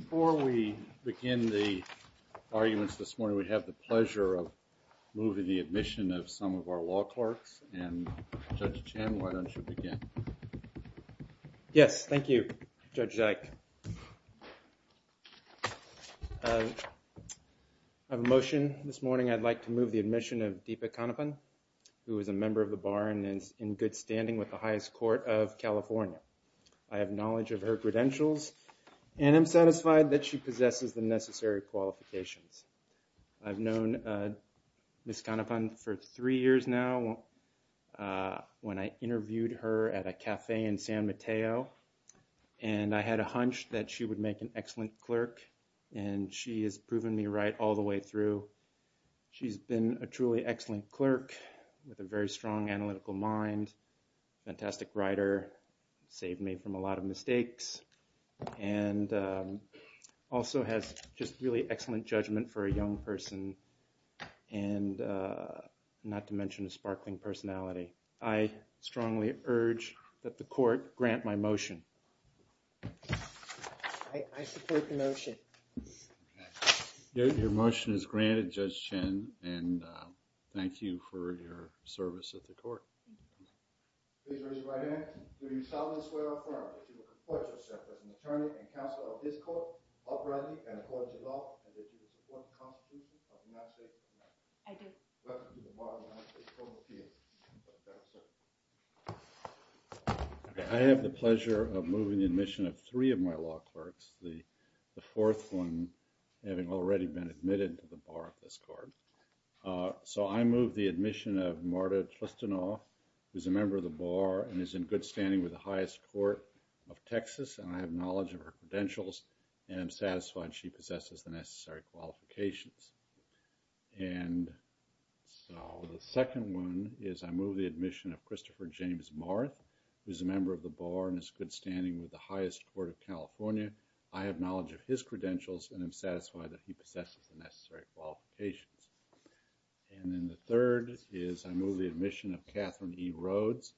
Before we begin the arguments this morning, we have the pleasure of moving the admission of some of our law clerks, and Judge Chen, why don't you begin? Yes, thank you, Judge Zak. I have a motion. This morning I'd like to move the admission of Deepa Kanepan, who is a member of the Bar and is in good standing with the highest court of California. I have knowledge of her credentials and am satisfied that she possesses the necessary qualifications. I've known Ms. Kanepan for three years now, when I interviewed her at a cafe in San Mateo, and I had a hunch that she would make an excellent clerk, and she has proven me right all the way through. She's been a truly excellent clerk with a very strong analytical mind, fantastic writer, saved me from a lot of mistakes, and also has just really excellent judgment for a young person, and not to mention a sparkling personality. I strongly urge that the court grant my motion. I support the motion. Your motion is granted, Judge Chen, and thank you for your service at the court. Please raise your right hand. Do you solemnly swear or affirm that you will comport yourself as an attorney and counsel of this court, uprightly and according to law, and that you will support the Constitution of the United States of America? I do. Welcome to the modern United States Court of Appeals. I have the pleasure of moving the admission of three of my law clerks, the fourth one having already been admitted to the bar of this court. So I move the admission of Marta Tristanoff, who is a member of the bar and is in good standing with the highest court of Texas, and I have knowledge of her credentials and am satisfied she possesses the necessary qualifications. And so the second one is I move the admission of Christopher James Marth, who is a member of the bar and is good standing with the highest court of California. I have knowledge of his credentials and am satisfied that he possesses the necessary qualifications. And then the third is I move the admission of Catherine E. Rhodes,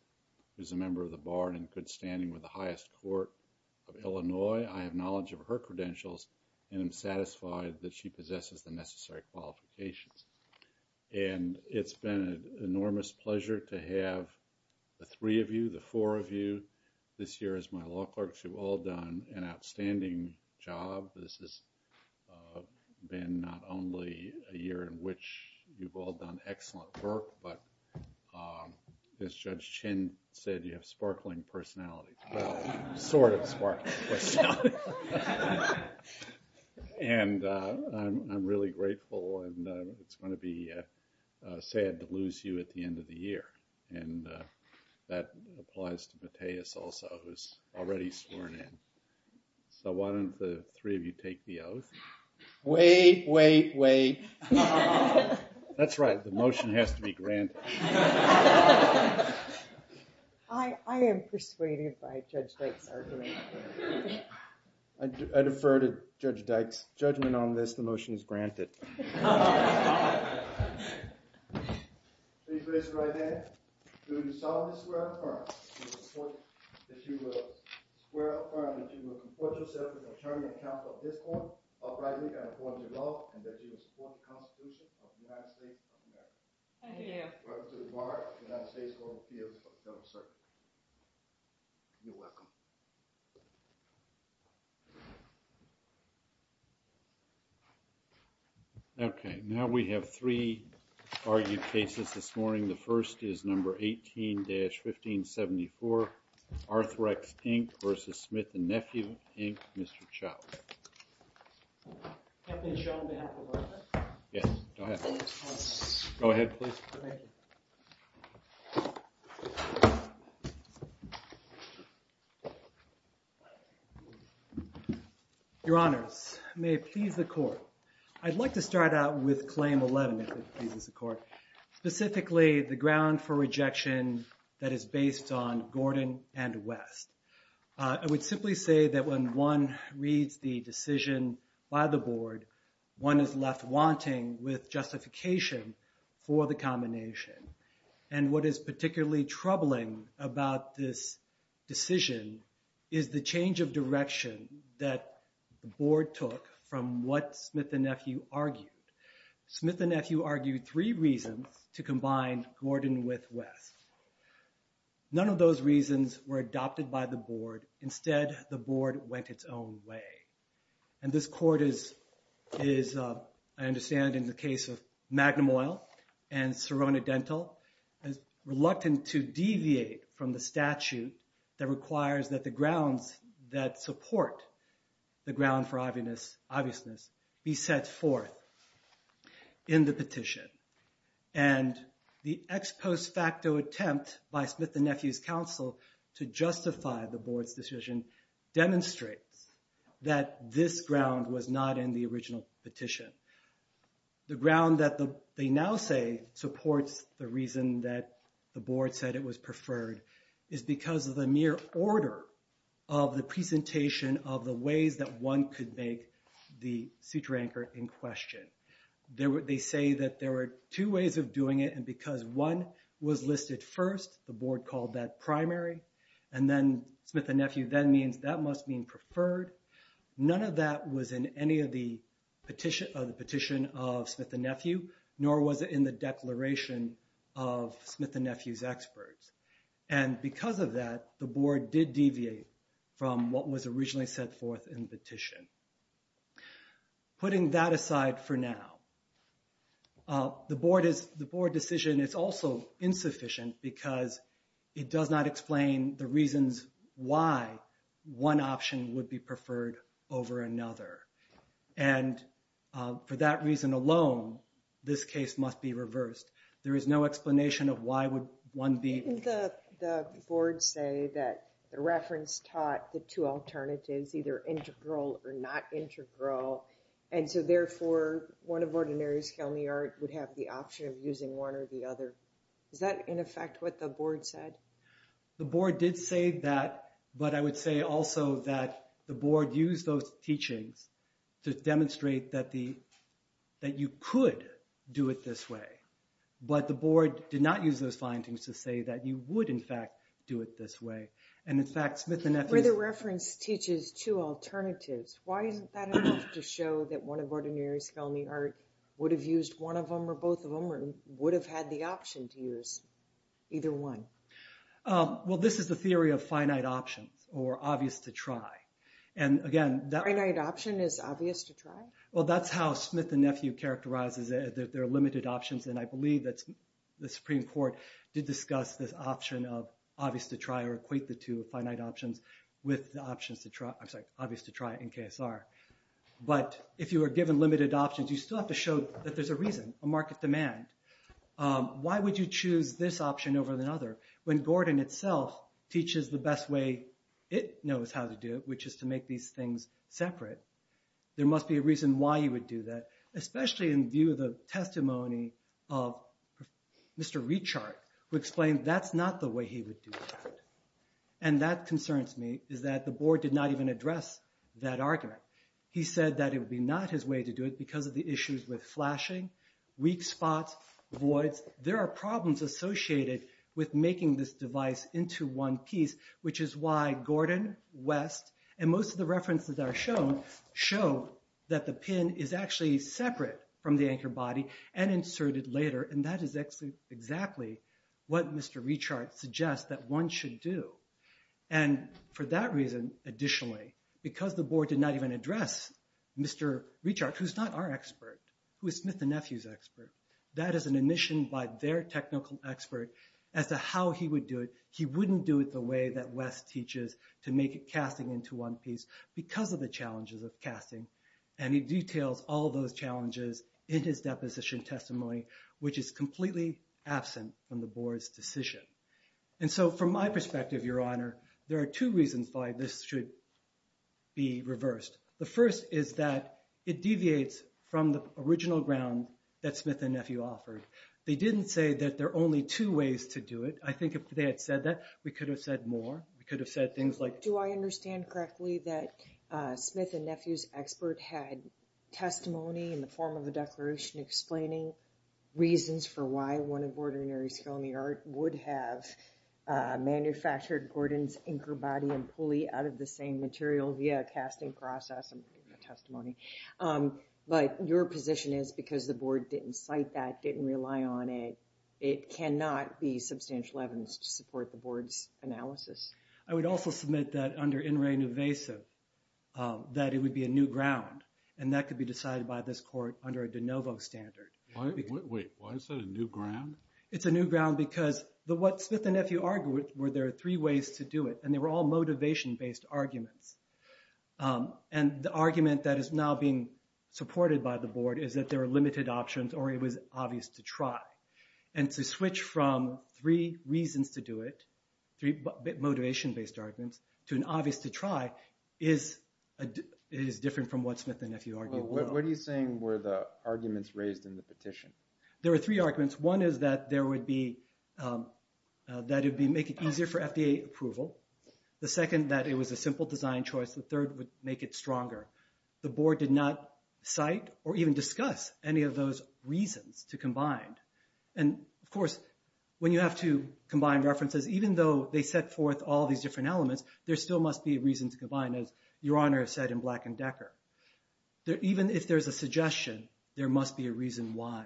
who is a member of the bar and in good standing with the highest court of Illinois. I have knowledge of her credentials and am satisfied that she possesses the necessary qualifications. And it's been an enormous pleasure to have the three of you, the four of you. This year, as my law clerks, you've all done an outstanding job. This has been not only a year in which you've all done excellent work, but as Judge Chin said, you have sparkling personalities. Well, sort of sparkling personalities. And I'm really grateful, and it's going to be sad to lose you at the end of the year. And that applies to Mateus also, who's already sworn in. So why don't the three of you take the oath? Wait, wait, wait. That's right. The motion has to be granted. I am persuaded by Judge Blake's argument. I defer to Judge Dyke's judgment on this. The motion is granted. Please raise your right hand. Do you solemnly swear or affirm that you will support, that you will swear or affirm that you will comport yourself with the attorney and counsel of this court uprightly and according to law, and that you will support the Constitution of the United States of America? I do. Welcome to the bar of the United States Court of Appeals of the Federal Circuit. You're welcome. Thank you. Okay, now we have three argued cases this morning. The first is number 18-1574, Arthrex, Inc. v. Smith & Nephew, Inc., Mr. Chow. Can I please show them to you? Yes, go ahead. Go ahead, please. Thank you. Your Honors, may it please the Court, I'd like to start out with Claim 11, if it pleases the Court, specifically the ground for rejection that is based on Gordon and West. I would simply say that when one reads the decision by the Board, one is left wanting with justification for the combination. And what is particularly troubling about this decision is the change of direction that the Board took from what Smith & Nephew argued. Smith & Nephew argued three reasons to combine Gordon with West. None of those reasons were adopted by the Board. Instead, the Board went its own way. And this Court is, I understand, in the case of Magnum Oil and Serona Dental, reluctant to deviate from the statute that requires that the grounds that support the ground for obviousness be set forth in the petition. And the ex post facto attempt by Smith & Nephew's counsel to justify the Board's decision demonstrates that this ground was not in the original petition. The ground that they now say supports the reason that the Board said it was preferred is because of the mere order of the presentation of the ways that one could make the suture anchor in question. They say that there were two ways of doing it, and because one was listed first, the Board called that primary, and then Smith & Nephew then means that must mean preferred. None of that was in any of the petition of Smith & Nephew, nor was it in the declaration of Smith & Nephew's experts. And because of that, the Board did deviate from what was originally set forth in the petition. Putting that aside for now, the Board decision is also insufficient because it does not explain the reasons why one option would be preferred over another. And for that reason alone, this case must be reversed. There is no explanation of why would one be... Didn't the Board say that the reference taught the two alternatives, either integral or not integral, and so therefore one of Ordinary Scalene Art would have the option of using one or the other? Is that, in effect, what the Board said? The Board did say that, but I would say also that the Board used those teachings to demonstrate that you could do it this way. But the Board did not use those findings to say that you would, in fact, do it this way. And in fact, Smith & Nephew's... Where the reference teaches two alternatives, why isn't that enough to show that one of Ordinary Scalene Art would have used one of them or both of them or would have had the option to use either one? Well, this is the theory of finite options or obvious to try. And again... Finite option is obvious to try? Well, that's how Smith & Nephew characterizes their limited options, and I believe that the Supreme Court did discuss this option of obvious to try or equate the two of finite options with the options to try... I'm sorry, obvious to try in KSR. But if you are given limited options, you still have to show that there's a reason, a market demand. Why would you choose this option over another? When Gordon itself teaches the best way it knows how to do it, which is to make these things separate, there must be a reason why you would do that, especially in view of the testimony of Mr. Rechart, who explained that's not the way he would do that. And that concerns me, is that the Board did not even address that argument. He said that it would be not his way to do it because of the issues with flashing, weak spots, voids. There are problems associated with making this device into one piece, which is why Gordon, West, and most of the references that are shown show that the pin is actually separate from the anchor body and inserted later. And that is exactly what Mr. Rechart suggests that one should do. And for that reason, additionally, because the Board did not even address Mr. Rechart, who's not our expert, who is Smith and Nephew's expert, that is an admission by their technical expert as to how he would do it. He wouldn't do it the way that West teaches to make casting into one piece because of the challenges of casting. And he details all those challenges in his deposition testimony, which is completely absent from the Board's decision. And so from my perspective, Your Honor, there are two reasons why this should be reversed. The first is that it deviates from the original ground that Smith and Nephew offered. They didn't say that there are only two ways to do it. I think if they had said that, we could have said more. We could have said things like... Do I understand correctly that Smith and Nephew's expert had testimony in the form of a declaration explaining reasons for why one of ordinary skill in the art would have manufactured Gordon's anchor body and pulley out of the same material via casting process and testimony. But your position is because the Board didn't cite that, didn't rely on it, it cannot be substantial evidence to support the Board's analysis. I would also submit that under In Re Nuvasib that it would be a new ground. And that could be decided by this court under a de novo standard. Wait, why is that a new ground? It's a new ground because what Smith and Nephew argued were there are three ways to do it. And they were all motivation-based arguments. And the argument that is now being supported by the Board is that there are limited options or it was obvious to try. And to switch from three reasons to do it, three motivation-based arguments, to an obvious to try is different from what Smith and Nephew argued. What are you saying were the arguments raised in the petition? There were three arguments. One is that it would make it easier for FDA approval. The second, that it was a simple design choice. The third would make it stronger. The Board did not cite or even discuss any of those reasons to combine. And, of course, when you have to combine references, even though they set forth all these different elements, there still must be a reason to combine, as your Honor has said in Black and Decker. Even if there's a suggestion, there must be a reason why.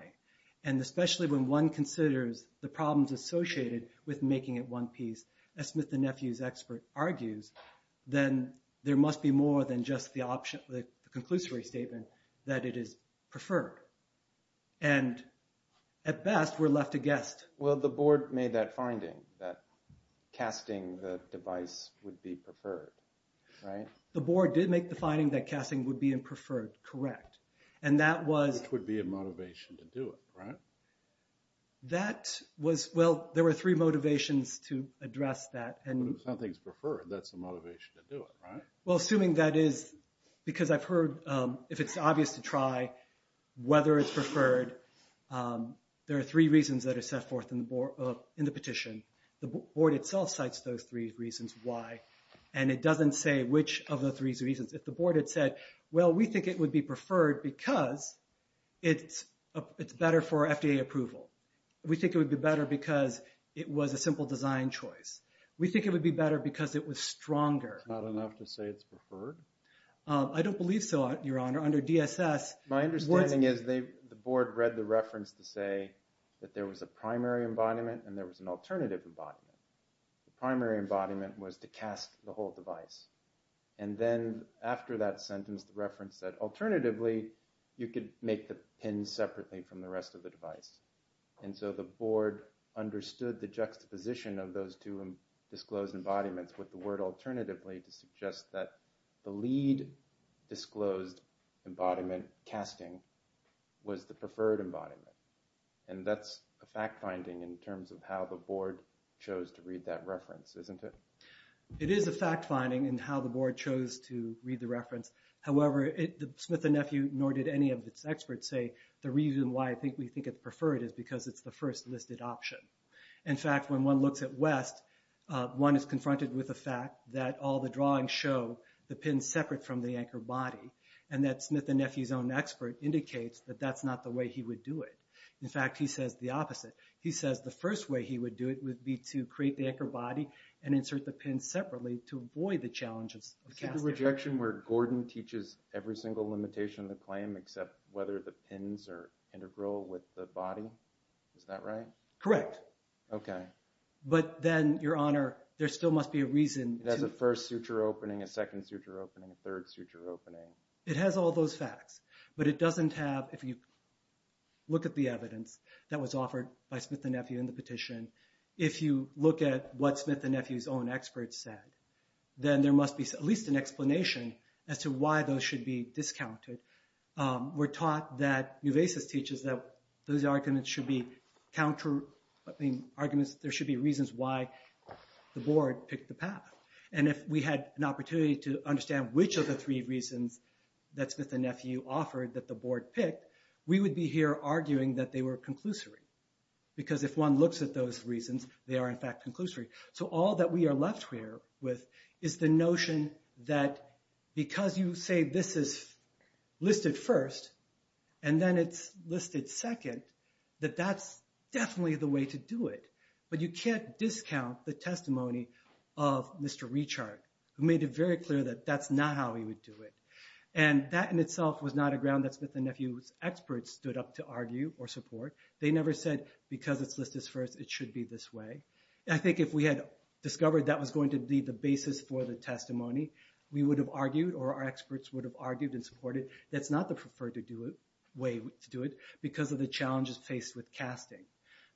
And especially when one considers the problems associated with making it one piece, as Smith and Nephew's expert argues, then there must be more than just the option, the conclusory statement that it is preferred. And at best, we're left to guess. Well, the Board made that finding that casting the device would be preferred, right? The Board did make the finding that casting would be preferred, correct. Which would be a motivation to do it, right? That was, well, there were three motivations to address that. If something's preferred, that's the motivation to do it, right? Well, assuming that is, because I've heard, if it's obvious to try, whether it's preferred, there are three reasons that are set forth in the petition. The Board itself cites those three reasons why. And it doesn't say which of the three reasons. If the Board had said, well, we think it would be preferred because it's better for FDA approval. We think it would be better because it was a simple design choice. We think it would be better because it was stronger. It's not enough to say it's preferred? I don't believe so, Your Honor. Under DSS, what's— My understanding is the Board read the reference to say that there was a primary embodiment and there was an alternative embodiment. The primary embodiment was to cast the whole device. And then after that sentence, the reference said, alternatively, you could make the pin separately from the rest of the device. And so the Board understood the juxtaposition of those two disclosed embodiments with the word alternatively to suggest that the lead disclosed embodiment casting was the preferred embodiment. And that's a fact-finding in terms of how the Board chose to read that reference, isn't it? It is a fact-finding in how the Board chose to read the reference. However, Smith & Nephew, nor did any of its experts say, the reason why I think we think it's preferred is because it's the first listed option. In fact, when one looks at West, one is confronted with the fact that all the drawings show the pin separate from the anchor body, and that Smith & Nephew's own expert indicates that that's not the way he would do it. In fact, he says the opposite. He says the first way he would do it would be to create the anchor body and insert the pin separately to avoid the challenges of casting. Is it the rejection where Gordon teaches every single limitation of the claim except whether the pins are integral with the body? Is that right? Correct. Okay. But then, Your Honor, there still must be a reason to... It has a first suture opening, a second suture opening, a third suture opening. It has all those facts, but it doesn't have, if you look at the evidence that was offered by Smith & Nephew in the petition, if you look at what Smith & Nephew's own experts said, then there must be at least an explanation as to why those should be discounted. We're taught that Nuevesis teaches that those arguments should be counter... I mean, arguments, there should be reasons why the Board picked the path. And if we had an opportunity to understand which of the three reasons that Smith & Nephew offered that the Board picked, we would be here arguing that they were conclusory. Because if one looks at those reasons, they are, in fact, conclusory. So all that we are left here with is the notion that because you say this is listed first and then it's listed second, that that's definitely the way to do it. But you can't discount the testimony of Mr. Rechart, who made it very clear that that's not how he would do it. And that in itself was not a ground that Smith & Nephew's experts stood up to argue or support. They never said, because it's listed first, it should be this way. And I think if we had discovered that was going to be the basis for the testimony, we would have argued, or our experts would have argued and supported, that's not the preferred way to do it because of the challenges faced with casting.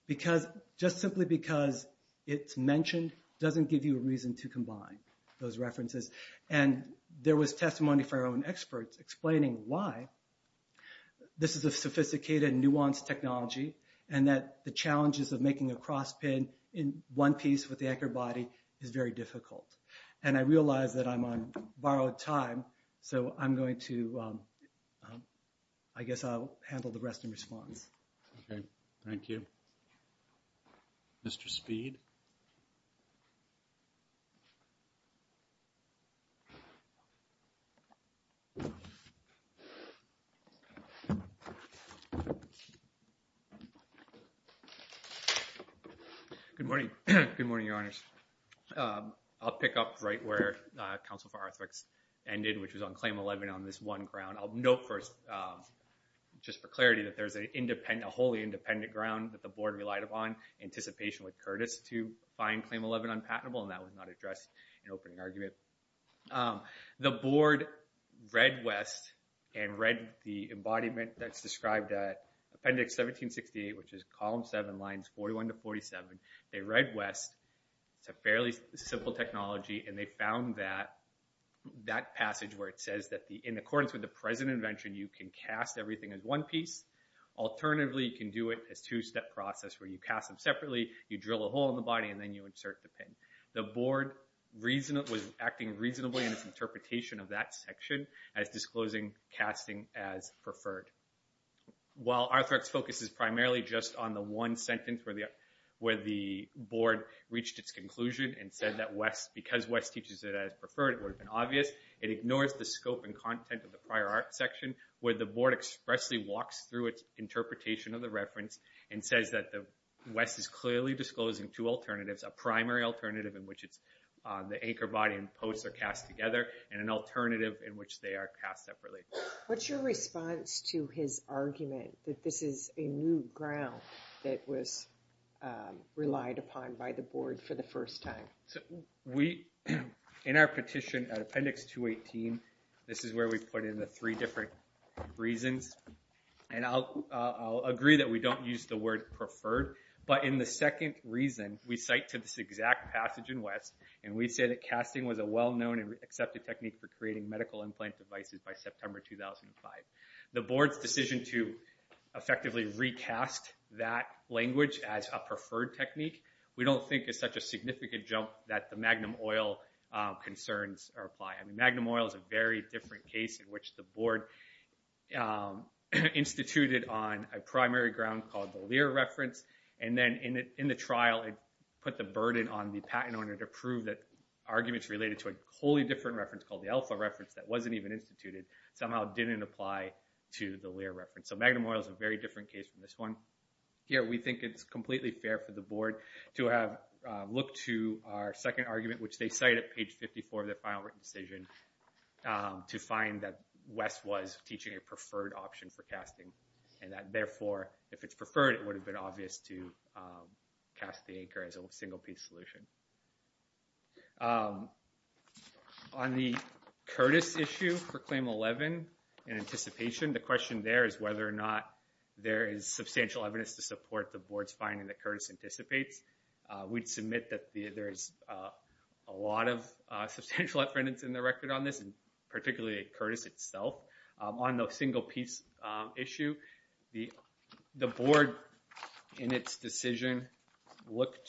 Because just simply because it's mentioned doesn't give you a reason to combine those references. And there was testimony from our own experts explaining why this is a sophisticated and nuanced technology and that the challenges of making a cross pin in one piece with the anchor body is very difficult. And I realize that I'm on borrowed time, so I'm going to, I guess I'll handle the rest in response. Okay. Thank you. Mr. Speed. Good morning. Good morning, Your Honors. I'll pick up right where Council for Arthritics ended, which was on Claim 11 on this one ground. I'll note first, just for clarity, that there's a wholly independent ground that the board relied upon in anticipation with Curtis to find Claim 11 unpatentable, and that was not addressed in opening argument. The board read West and read the embodiment that's described at Appendix 1768, which is Column 7, Lines 41 to 47. They read West. It's a fairly simple technology, and they found that passage where it says that in accordance with the present invention, you can cast everything as one piece. Alternatively, you can do it as a two-step process where you cast them separately, you drill a hole in the body, and then you insert the pin. The board was acting reasonably in its interpretation of that section as disclosing casting as preferred. While Arthritics focuses primarily just on the one sentence where the board reached its conclusion and said that because West teaches it as preferred, it would have been obvious, it ignores the scope and content of the prior art section where the board expressly walks through its interpretation of the reference and says that West is clearly disclosing two alternatives, a primary alternative in which the anchor body and posts are cast together, and an alternative in which they are cast separately. What's your response to his argument that this is a new ground that was relied upon by the board for the first time? In our petition at Appendix 218, this is where we put in the three different reasons, and I'll agree that we don't use the word preferred, but in the second reason, we cite to this exact passage in West, and we say that casting was a well-known and accepted technique for creating medical implant devices by September 2005. The board's decision to effectively recast that language as a preferred technique, we don't think is such a significant jump that the Magnum Oil concerns apply. Magnum Oil is a very different case in which the board instituted on a primary ground called the Lear reference, and then in the trial, it put the burden on the patent owner to prove that arguments related to a wholly different reference called the Alpha reference that wasn't even instituted somehow didn't apply to the Lear reference. So Magnum Oil is a very different case from this one. Here, we think it's completely fair for the board to have looked to our second argument, which they cite at page 54 of their final written decision, to find that West was teaching a preferred option for casting, and that, therefore, if it's preferred, it would have been obvious to cast the anchor as a single-piece solution. On the Curtis issue for Claim 11, in anticipation, the question there is whether or not there is substantial evidence to support the board's finding that Curtis anticipates. We'd submit that there's a lot of substantial evidence in the record on this, and particularly Curtis itself on the single-piece issue. The board, in its decision, looked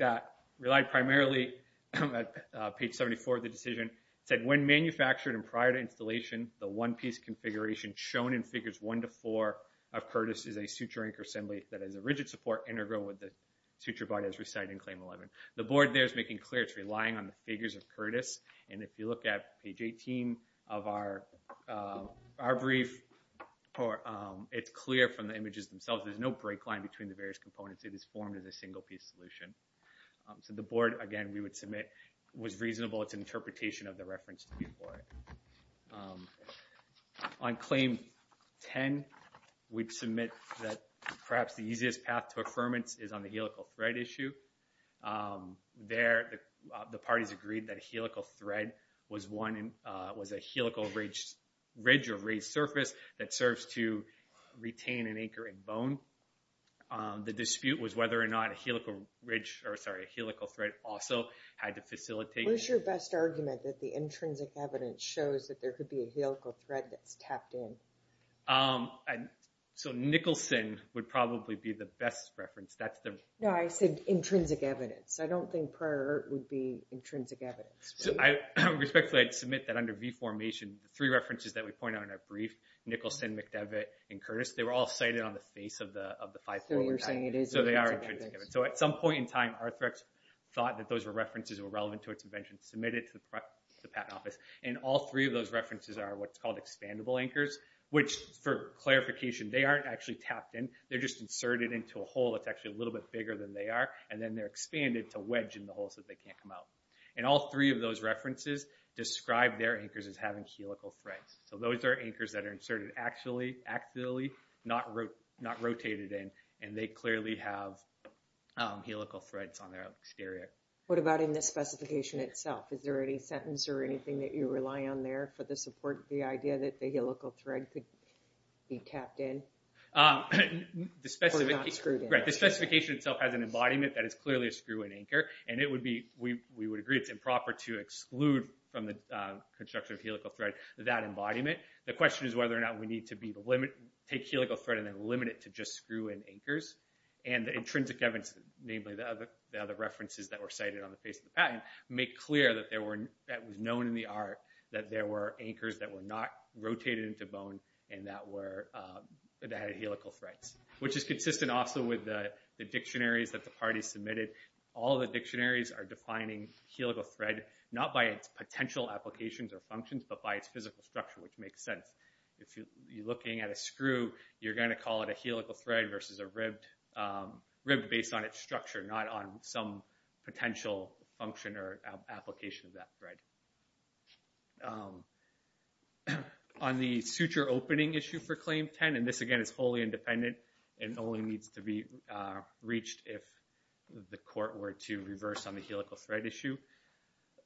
at, relied primarily at page 74 of the decision, said, When manufactured and prior to installation, the one-piece configuration shown in figures 1 to 4 of Curtis is a suture-anchor assembly that is a rigid support integral with the suture body as recited in Claim 11. The board there is making clear it's relying on the figures of Curtis, and if you look at page 18 of our brief, it's clear from the images themselves, there's no break line between the various components. It is formed as a single-piece solution. The board, again, we would submit was reasonable its interpretation of the reference to be for it. On Claim 10, we'd submit that perhaps the easiest path to affirmance is on the helical thread issue. There, the parties agreed that a helical thread was a helical ridge or raised surface that serves to retain an anchoring bone. The dispute was whether or not a helical ridge, or sorry, a helical thread also had to facilitate. What's your best argument that the intrinsic evidence shows that there could be a helical thread that's tapped in? So Nicholson would probably be the best reference. No, I said intrinsic evidence. I don't think prior would be intrinsic evidence. So I respectfully submit that under V-Formation, the three references that we point out in our brief, Nicholson, McDevitt, and Curtis, they were all cited on the face of the 5-4. So they are intrinsic evidence. So at some point in time, Arthrex thought that those were references that were relevant to its invention, submitted to the Patent Office, and all three of those references are what's called expandable anchors, which for clarification, they aren't actually tapped in. They're just inserted into a hole that's actually a little bit bigger than they are, and then they're expanded to wedge in the hole so that they can't come out. And all three of those references describe their anchors as having helical threads. So those are anchors that are inserted axially, not rotated in, and they clearly have helical threads on their exterior. What about in the specification itself? Is there any sentence or anything that you rely on there for the support, the idea that the helical thread could be tapped in or not screwed in? Right, the specification itself has an embodiment that is clearly a screw-in anchor, and we would agree it's improper to exclude from the construction of helical thread that embodiment. The question is whether or not we need to take helical thread and then limit it to just screw-in anchors. And the intrinsic evidence, namely the other references that were cited on the face of the patent, make clear that it was known in the art that there were anchors that were not rotated into bone and that had helical threads, which is consistent also with the dictionaries that the parties submitted. All the dictionaries are defining helical thread not by its potential applications or functions, but by its physical structure, which makes sense. If you're looking at a screw, you're going to call it a helical thread versus a ribbed based on its structure, not on some potential function or application of that thread. On the suture opening issue for Claim 10, and this again is wholly independent and only needs to be reached if the court were to reverse on the helical thread issue.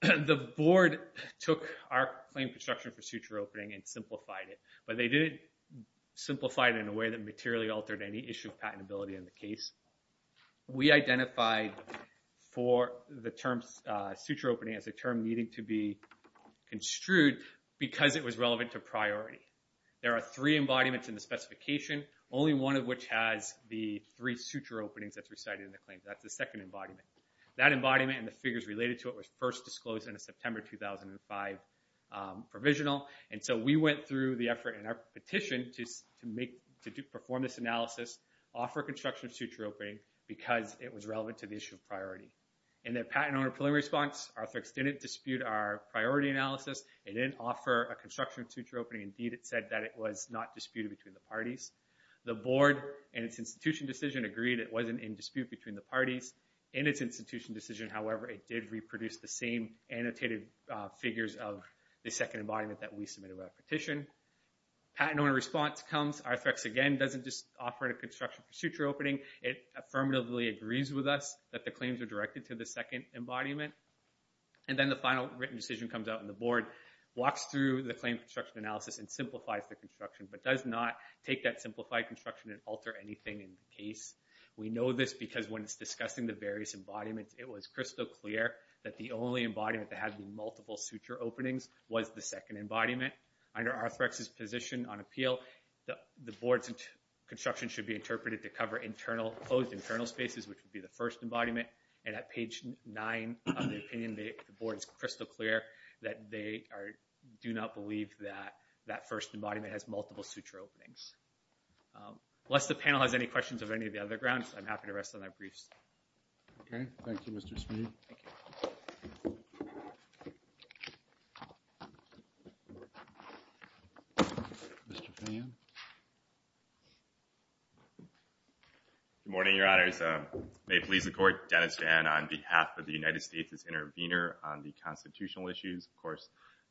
The board took our claim construction for suture opening and simplified it, but they didn't simplify it in a way that materially altered any issue of patentability in the case. We identified for the term suture opening as a term needing to be construed because it was relevant to priority. There are three embodiments in the specification, only one of which has the three suture openings that's recited in the claim. That's the second embodiment. That embodiment and the figures related to it was first disclosed in a September 2005 provisional, and so we went through the effort in our petition to perform this analysis, offer construction of suture opening because it was relevant to the issue of priority. In the patent owner preliminary response, Arthur X didn't dispute our priority analysis. It didn't offer a construction of suture opening. Indeed, it said that it was not disputed between the parties. The board and its institution decision agreed it wasn't in dispute between the parties. In its institution decision, however, it did reproduce the same annotated figures of the second embodiment that we submitted by petition. Patent owner response comes. Arthur X again doesn't just offer a construction for suture opening. It affirmatively agrees with us that the claims are directed to the second embodiment. And then the final written decision comes out and the board walks through the claim construction analysis and simplifies the construction, but does not take that simplified construction and alter anything in the case. We know this because when it's discussing the various embodiments, it was crystal clear that the only embodiment that had the multiple suture openings was the second embodiment. Under Arthur X's position on appeal, the board's construction should be interpreted to cover closed internal spaces, which would be the first embodiment. And at page nine of the opinion, the board is crystal clear that they do not believe that that first embodiment has multiple suture openings. Unless the panel has any questions of any of the other grounds, I'm happy to rest on their briefs. Thank you, Mr. Smith. Mr. Phan. Good morning, Your Honors. May it please the court, Dennis Phan on behalf of the United States as intervener on the constitutional issues. Of course,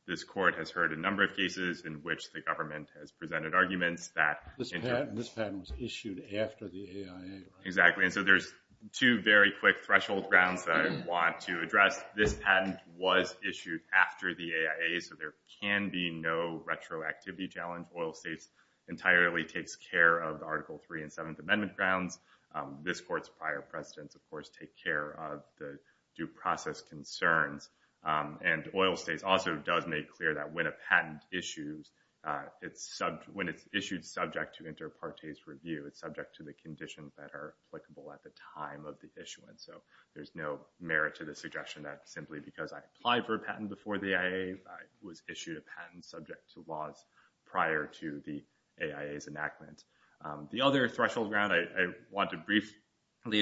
this court has heard a number of cases in which the government has presented arguments that- This patent was issued after the AIA. Exactly. And so there's two very quick threshold grounds that I want to address. This patent was issued after the AIA, so there can be no retroactivity challenge. Oil States entirely takes care of Article 3 and 7th Amendment grounds. This court's prior presidents, of course, take care of the due process concerns. And Oil States also does make clear that when a patent issues, when it's issued subject to inter partes review, it's subject to the conditions that are applicable at the time of the issuance. So there's no merit to the suggestion that simply because I applied for a patent before the AIA, I was issued a patent subject to laws prior to the AIA's enactment. The other threshold ground I want to briefly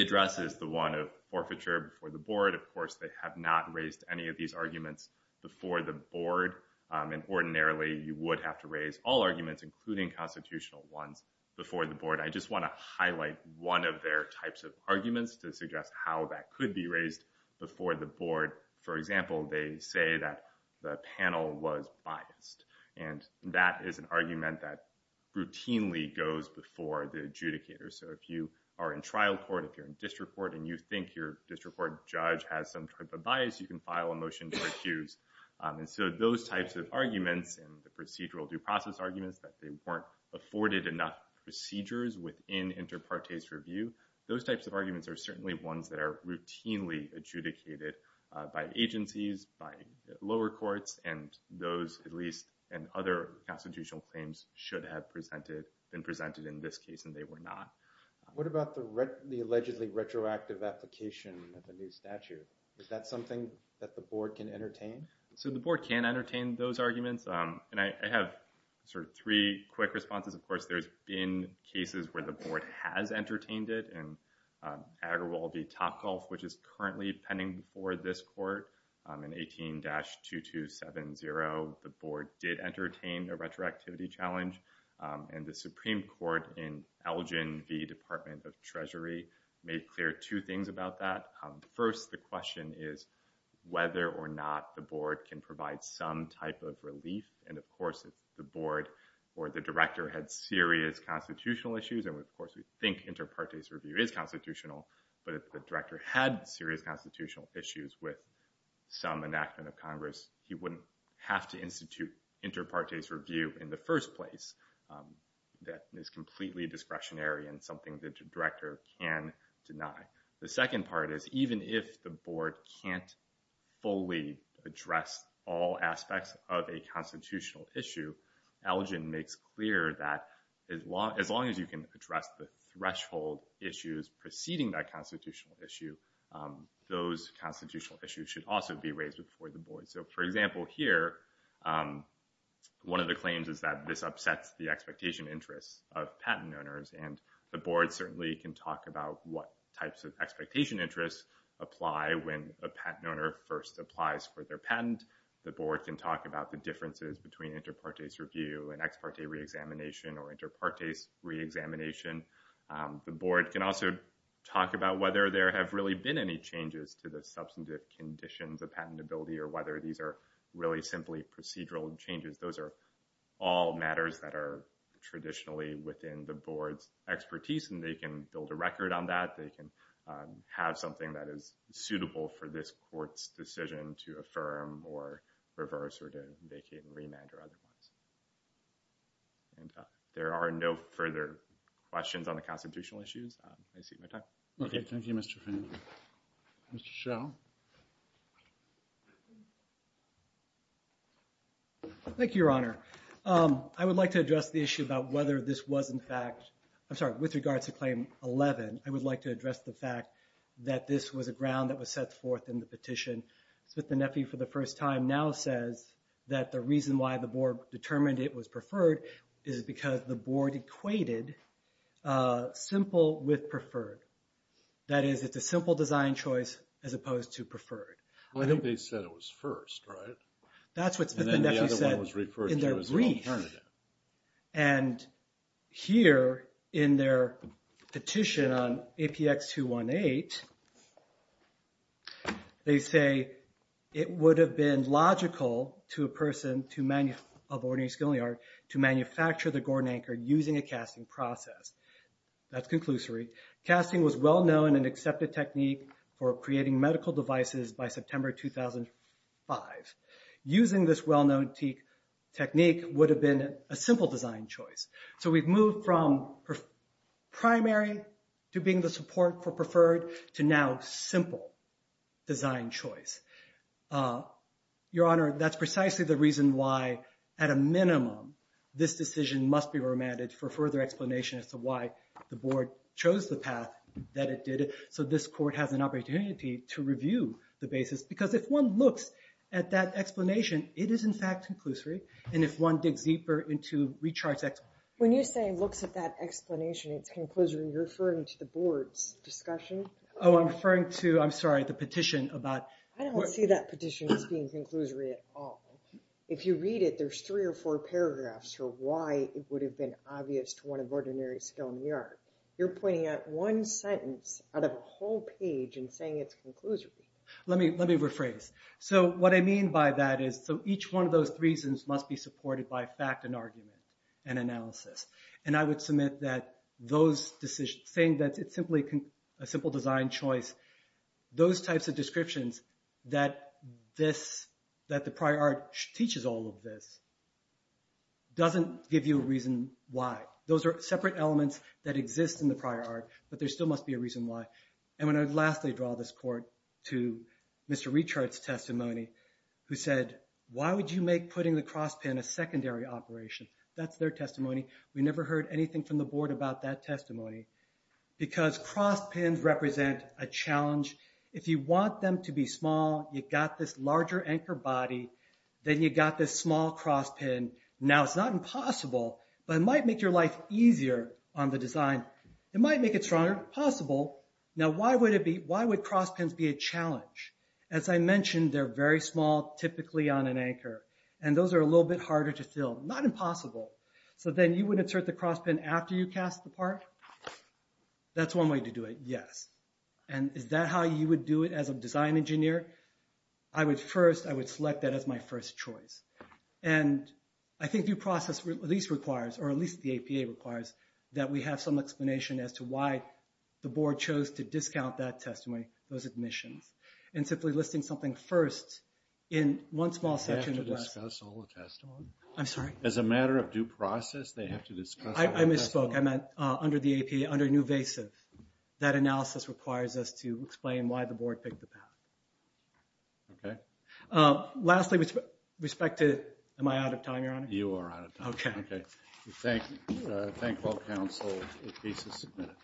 address is the one of forfeiture before the board. Of course, they have not raised any of these arguments before the board. And ordinarily, you would have to raise all arguments, including constitutional ones, before the board. I just want to highlight one of their types of arguments to suggest how that could be raised before the board. For example, they say that the panel was biased, and that is an argument that routinely goes before the adjudicator. So if you are in trial court, if you're in district court and you think your district court judge has some type of bias, you can file a motion to recuse. And so those types of arguments and the procedural due process arguments that they weren't afforded enough procedures within inter partes review, those types of arguments are certainly ones that are routinely adjudicated by agencies, by lower courts, and those at least and other constitutional claims should have been presented in this case, and they were not. What about the allegedly retroactive application of the new statute? Is that something that the board can entertain? So the board can entertain those arguments. And I have sort of three quick responses. Of course, there's been cases where the board has entertained it. In Agrawal v. Topgolf, which is currently pending before this court, in 18-2270, the board did entertain a retroactivity challenge. And the Supreme Court in Elgin v. Department of Treasury made clear two things about that. First, the question is whether or not the board can provide some type of relief. And, of course, if the board or the director had serious constitutional issues, and, of course, we think inter partes review is constitutional, but if the director had serious constitutional issues with some enactment of Congress, he wouldn't have to institute inter partes review in the first place. That is completely discretionary and something that the director can deny. The second part is even if the board can't fully address all aspects of a constitutional issue, Elgin makes clear that as long as you can address the threshold issues preceding that constitutional issue, those constitutional issues should also be raised before the board. So, for example, here, one of the claims is that this upsets the expectation interests of patent owners. And the board certainly can talk about what types of expectation interests apply when a patent owner first applies for their patent. The board can talk about the differences between inter partes review and ex parte reexamination or inter partes reexamination. The board can also talk about whether there have really been any changes to the substantive conditions of patentability or whether these are really simply procedural changes. Those are all matters that are traditionally within the board's expertise and they can build a record on that. They can have something that is suitable for this court's decision to affirm or reverse or to vacate and remand or otherwise. And there are no further questions on the constitutional issues. Okay. Thank you, Mr. Finley. Mr. Schell. Thank you, Your Honor. I would like to address the issue about whether this was in fact, I'm sorry, with regards to Claim 11. I would like to address the fact that this was a ground that was set forth in the petition. Smith and Effie for the first time now says that the reason why the board determined it was preferred is because the board equated simple with preferred. That is, it's a simple design choice as opposed to preferred. I think they said it was first, right? That's what Smith and Effie said in their brief. And here in their petition on APX 218, they say, it would have been logical to a person of ordinary skill in the art to manufacture the Gordon Anchor using a casting process. That's conclusory. Casting was well-known and an accepted technique for creating medical devices by September 2005. Using this well-known technique would have been a simple design choice. So we've moved from primary to being the support for preferred to now simple design choice. Your Honor, that's precisely the reason why, at a minimum, this decision must be remanded for further explanation as to why the board chose the path that it did. So this court has an opportunity to review the basis. Because if one looks at that explanation, it is, in fact, conclusory. And if one digs deeper into recharts... When you say looks at that explanation, it's conclusory, you're referring to the board's discussion? Oh, I'm referring to, I'm sorry, the petition about... I don't see that petition as being conclusory at all. If you read it, there's three or four paragraphs for why it would have been obvious to one of ordinary skill in the art. You're pointing at one sentence out of a whole page and saying it's conclusory. Let me rephrase. So what I mean by that is each one of those reasons must be supported by fact and argument and analysis. And I would submit that those decisions, saying that it's simply a simple design choice, those types of descriptions that the prior art teaches all of this doesn't give you a reason why. Those are separate elements that exist in the prior art, but there still must be a reason why. And when I lastly draw this court to Mr. Rechart's testimony, who said, why would you make putting the cross pin a secondary operation? That's their testimony. We never heard anything from the board about that testimony because cross pins represent a challenge. If you want them to be small, you got this larger anchor body, then you got this small cross pin. Now, it's not impossible, but it might make your life easier on the design. It might make it stronger. Possible. Now, why would cross pins be a challenge? As I mentioned, they're very small, typically on an anchor, and those are a little bit harder to fill. Not impossible. So then you would insert the cross pin after you cast the part? That's one way to do it, yes. And is that how you would do it as a design engineer? I would first, I would select that as my first choice. And I think due process at least requires, or at least the APA requires, that we have some explanation as to why the board chose to discount that testimony, those admissions. And simply listing something first in one small section. They have to discuss all the testimony? I'm sorry? As a matter of due process, they have to discuss all the testimony? I misspoke. I meant under the APA, under newvasive. That analysis requires us to explain why the board picked the path. Okay. Lastly, with respect to, am I out of time, Your Honor? You are out of time. Okay. Thank all counsel. The case is submitted.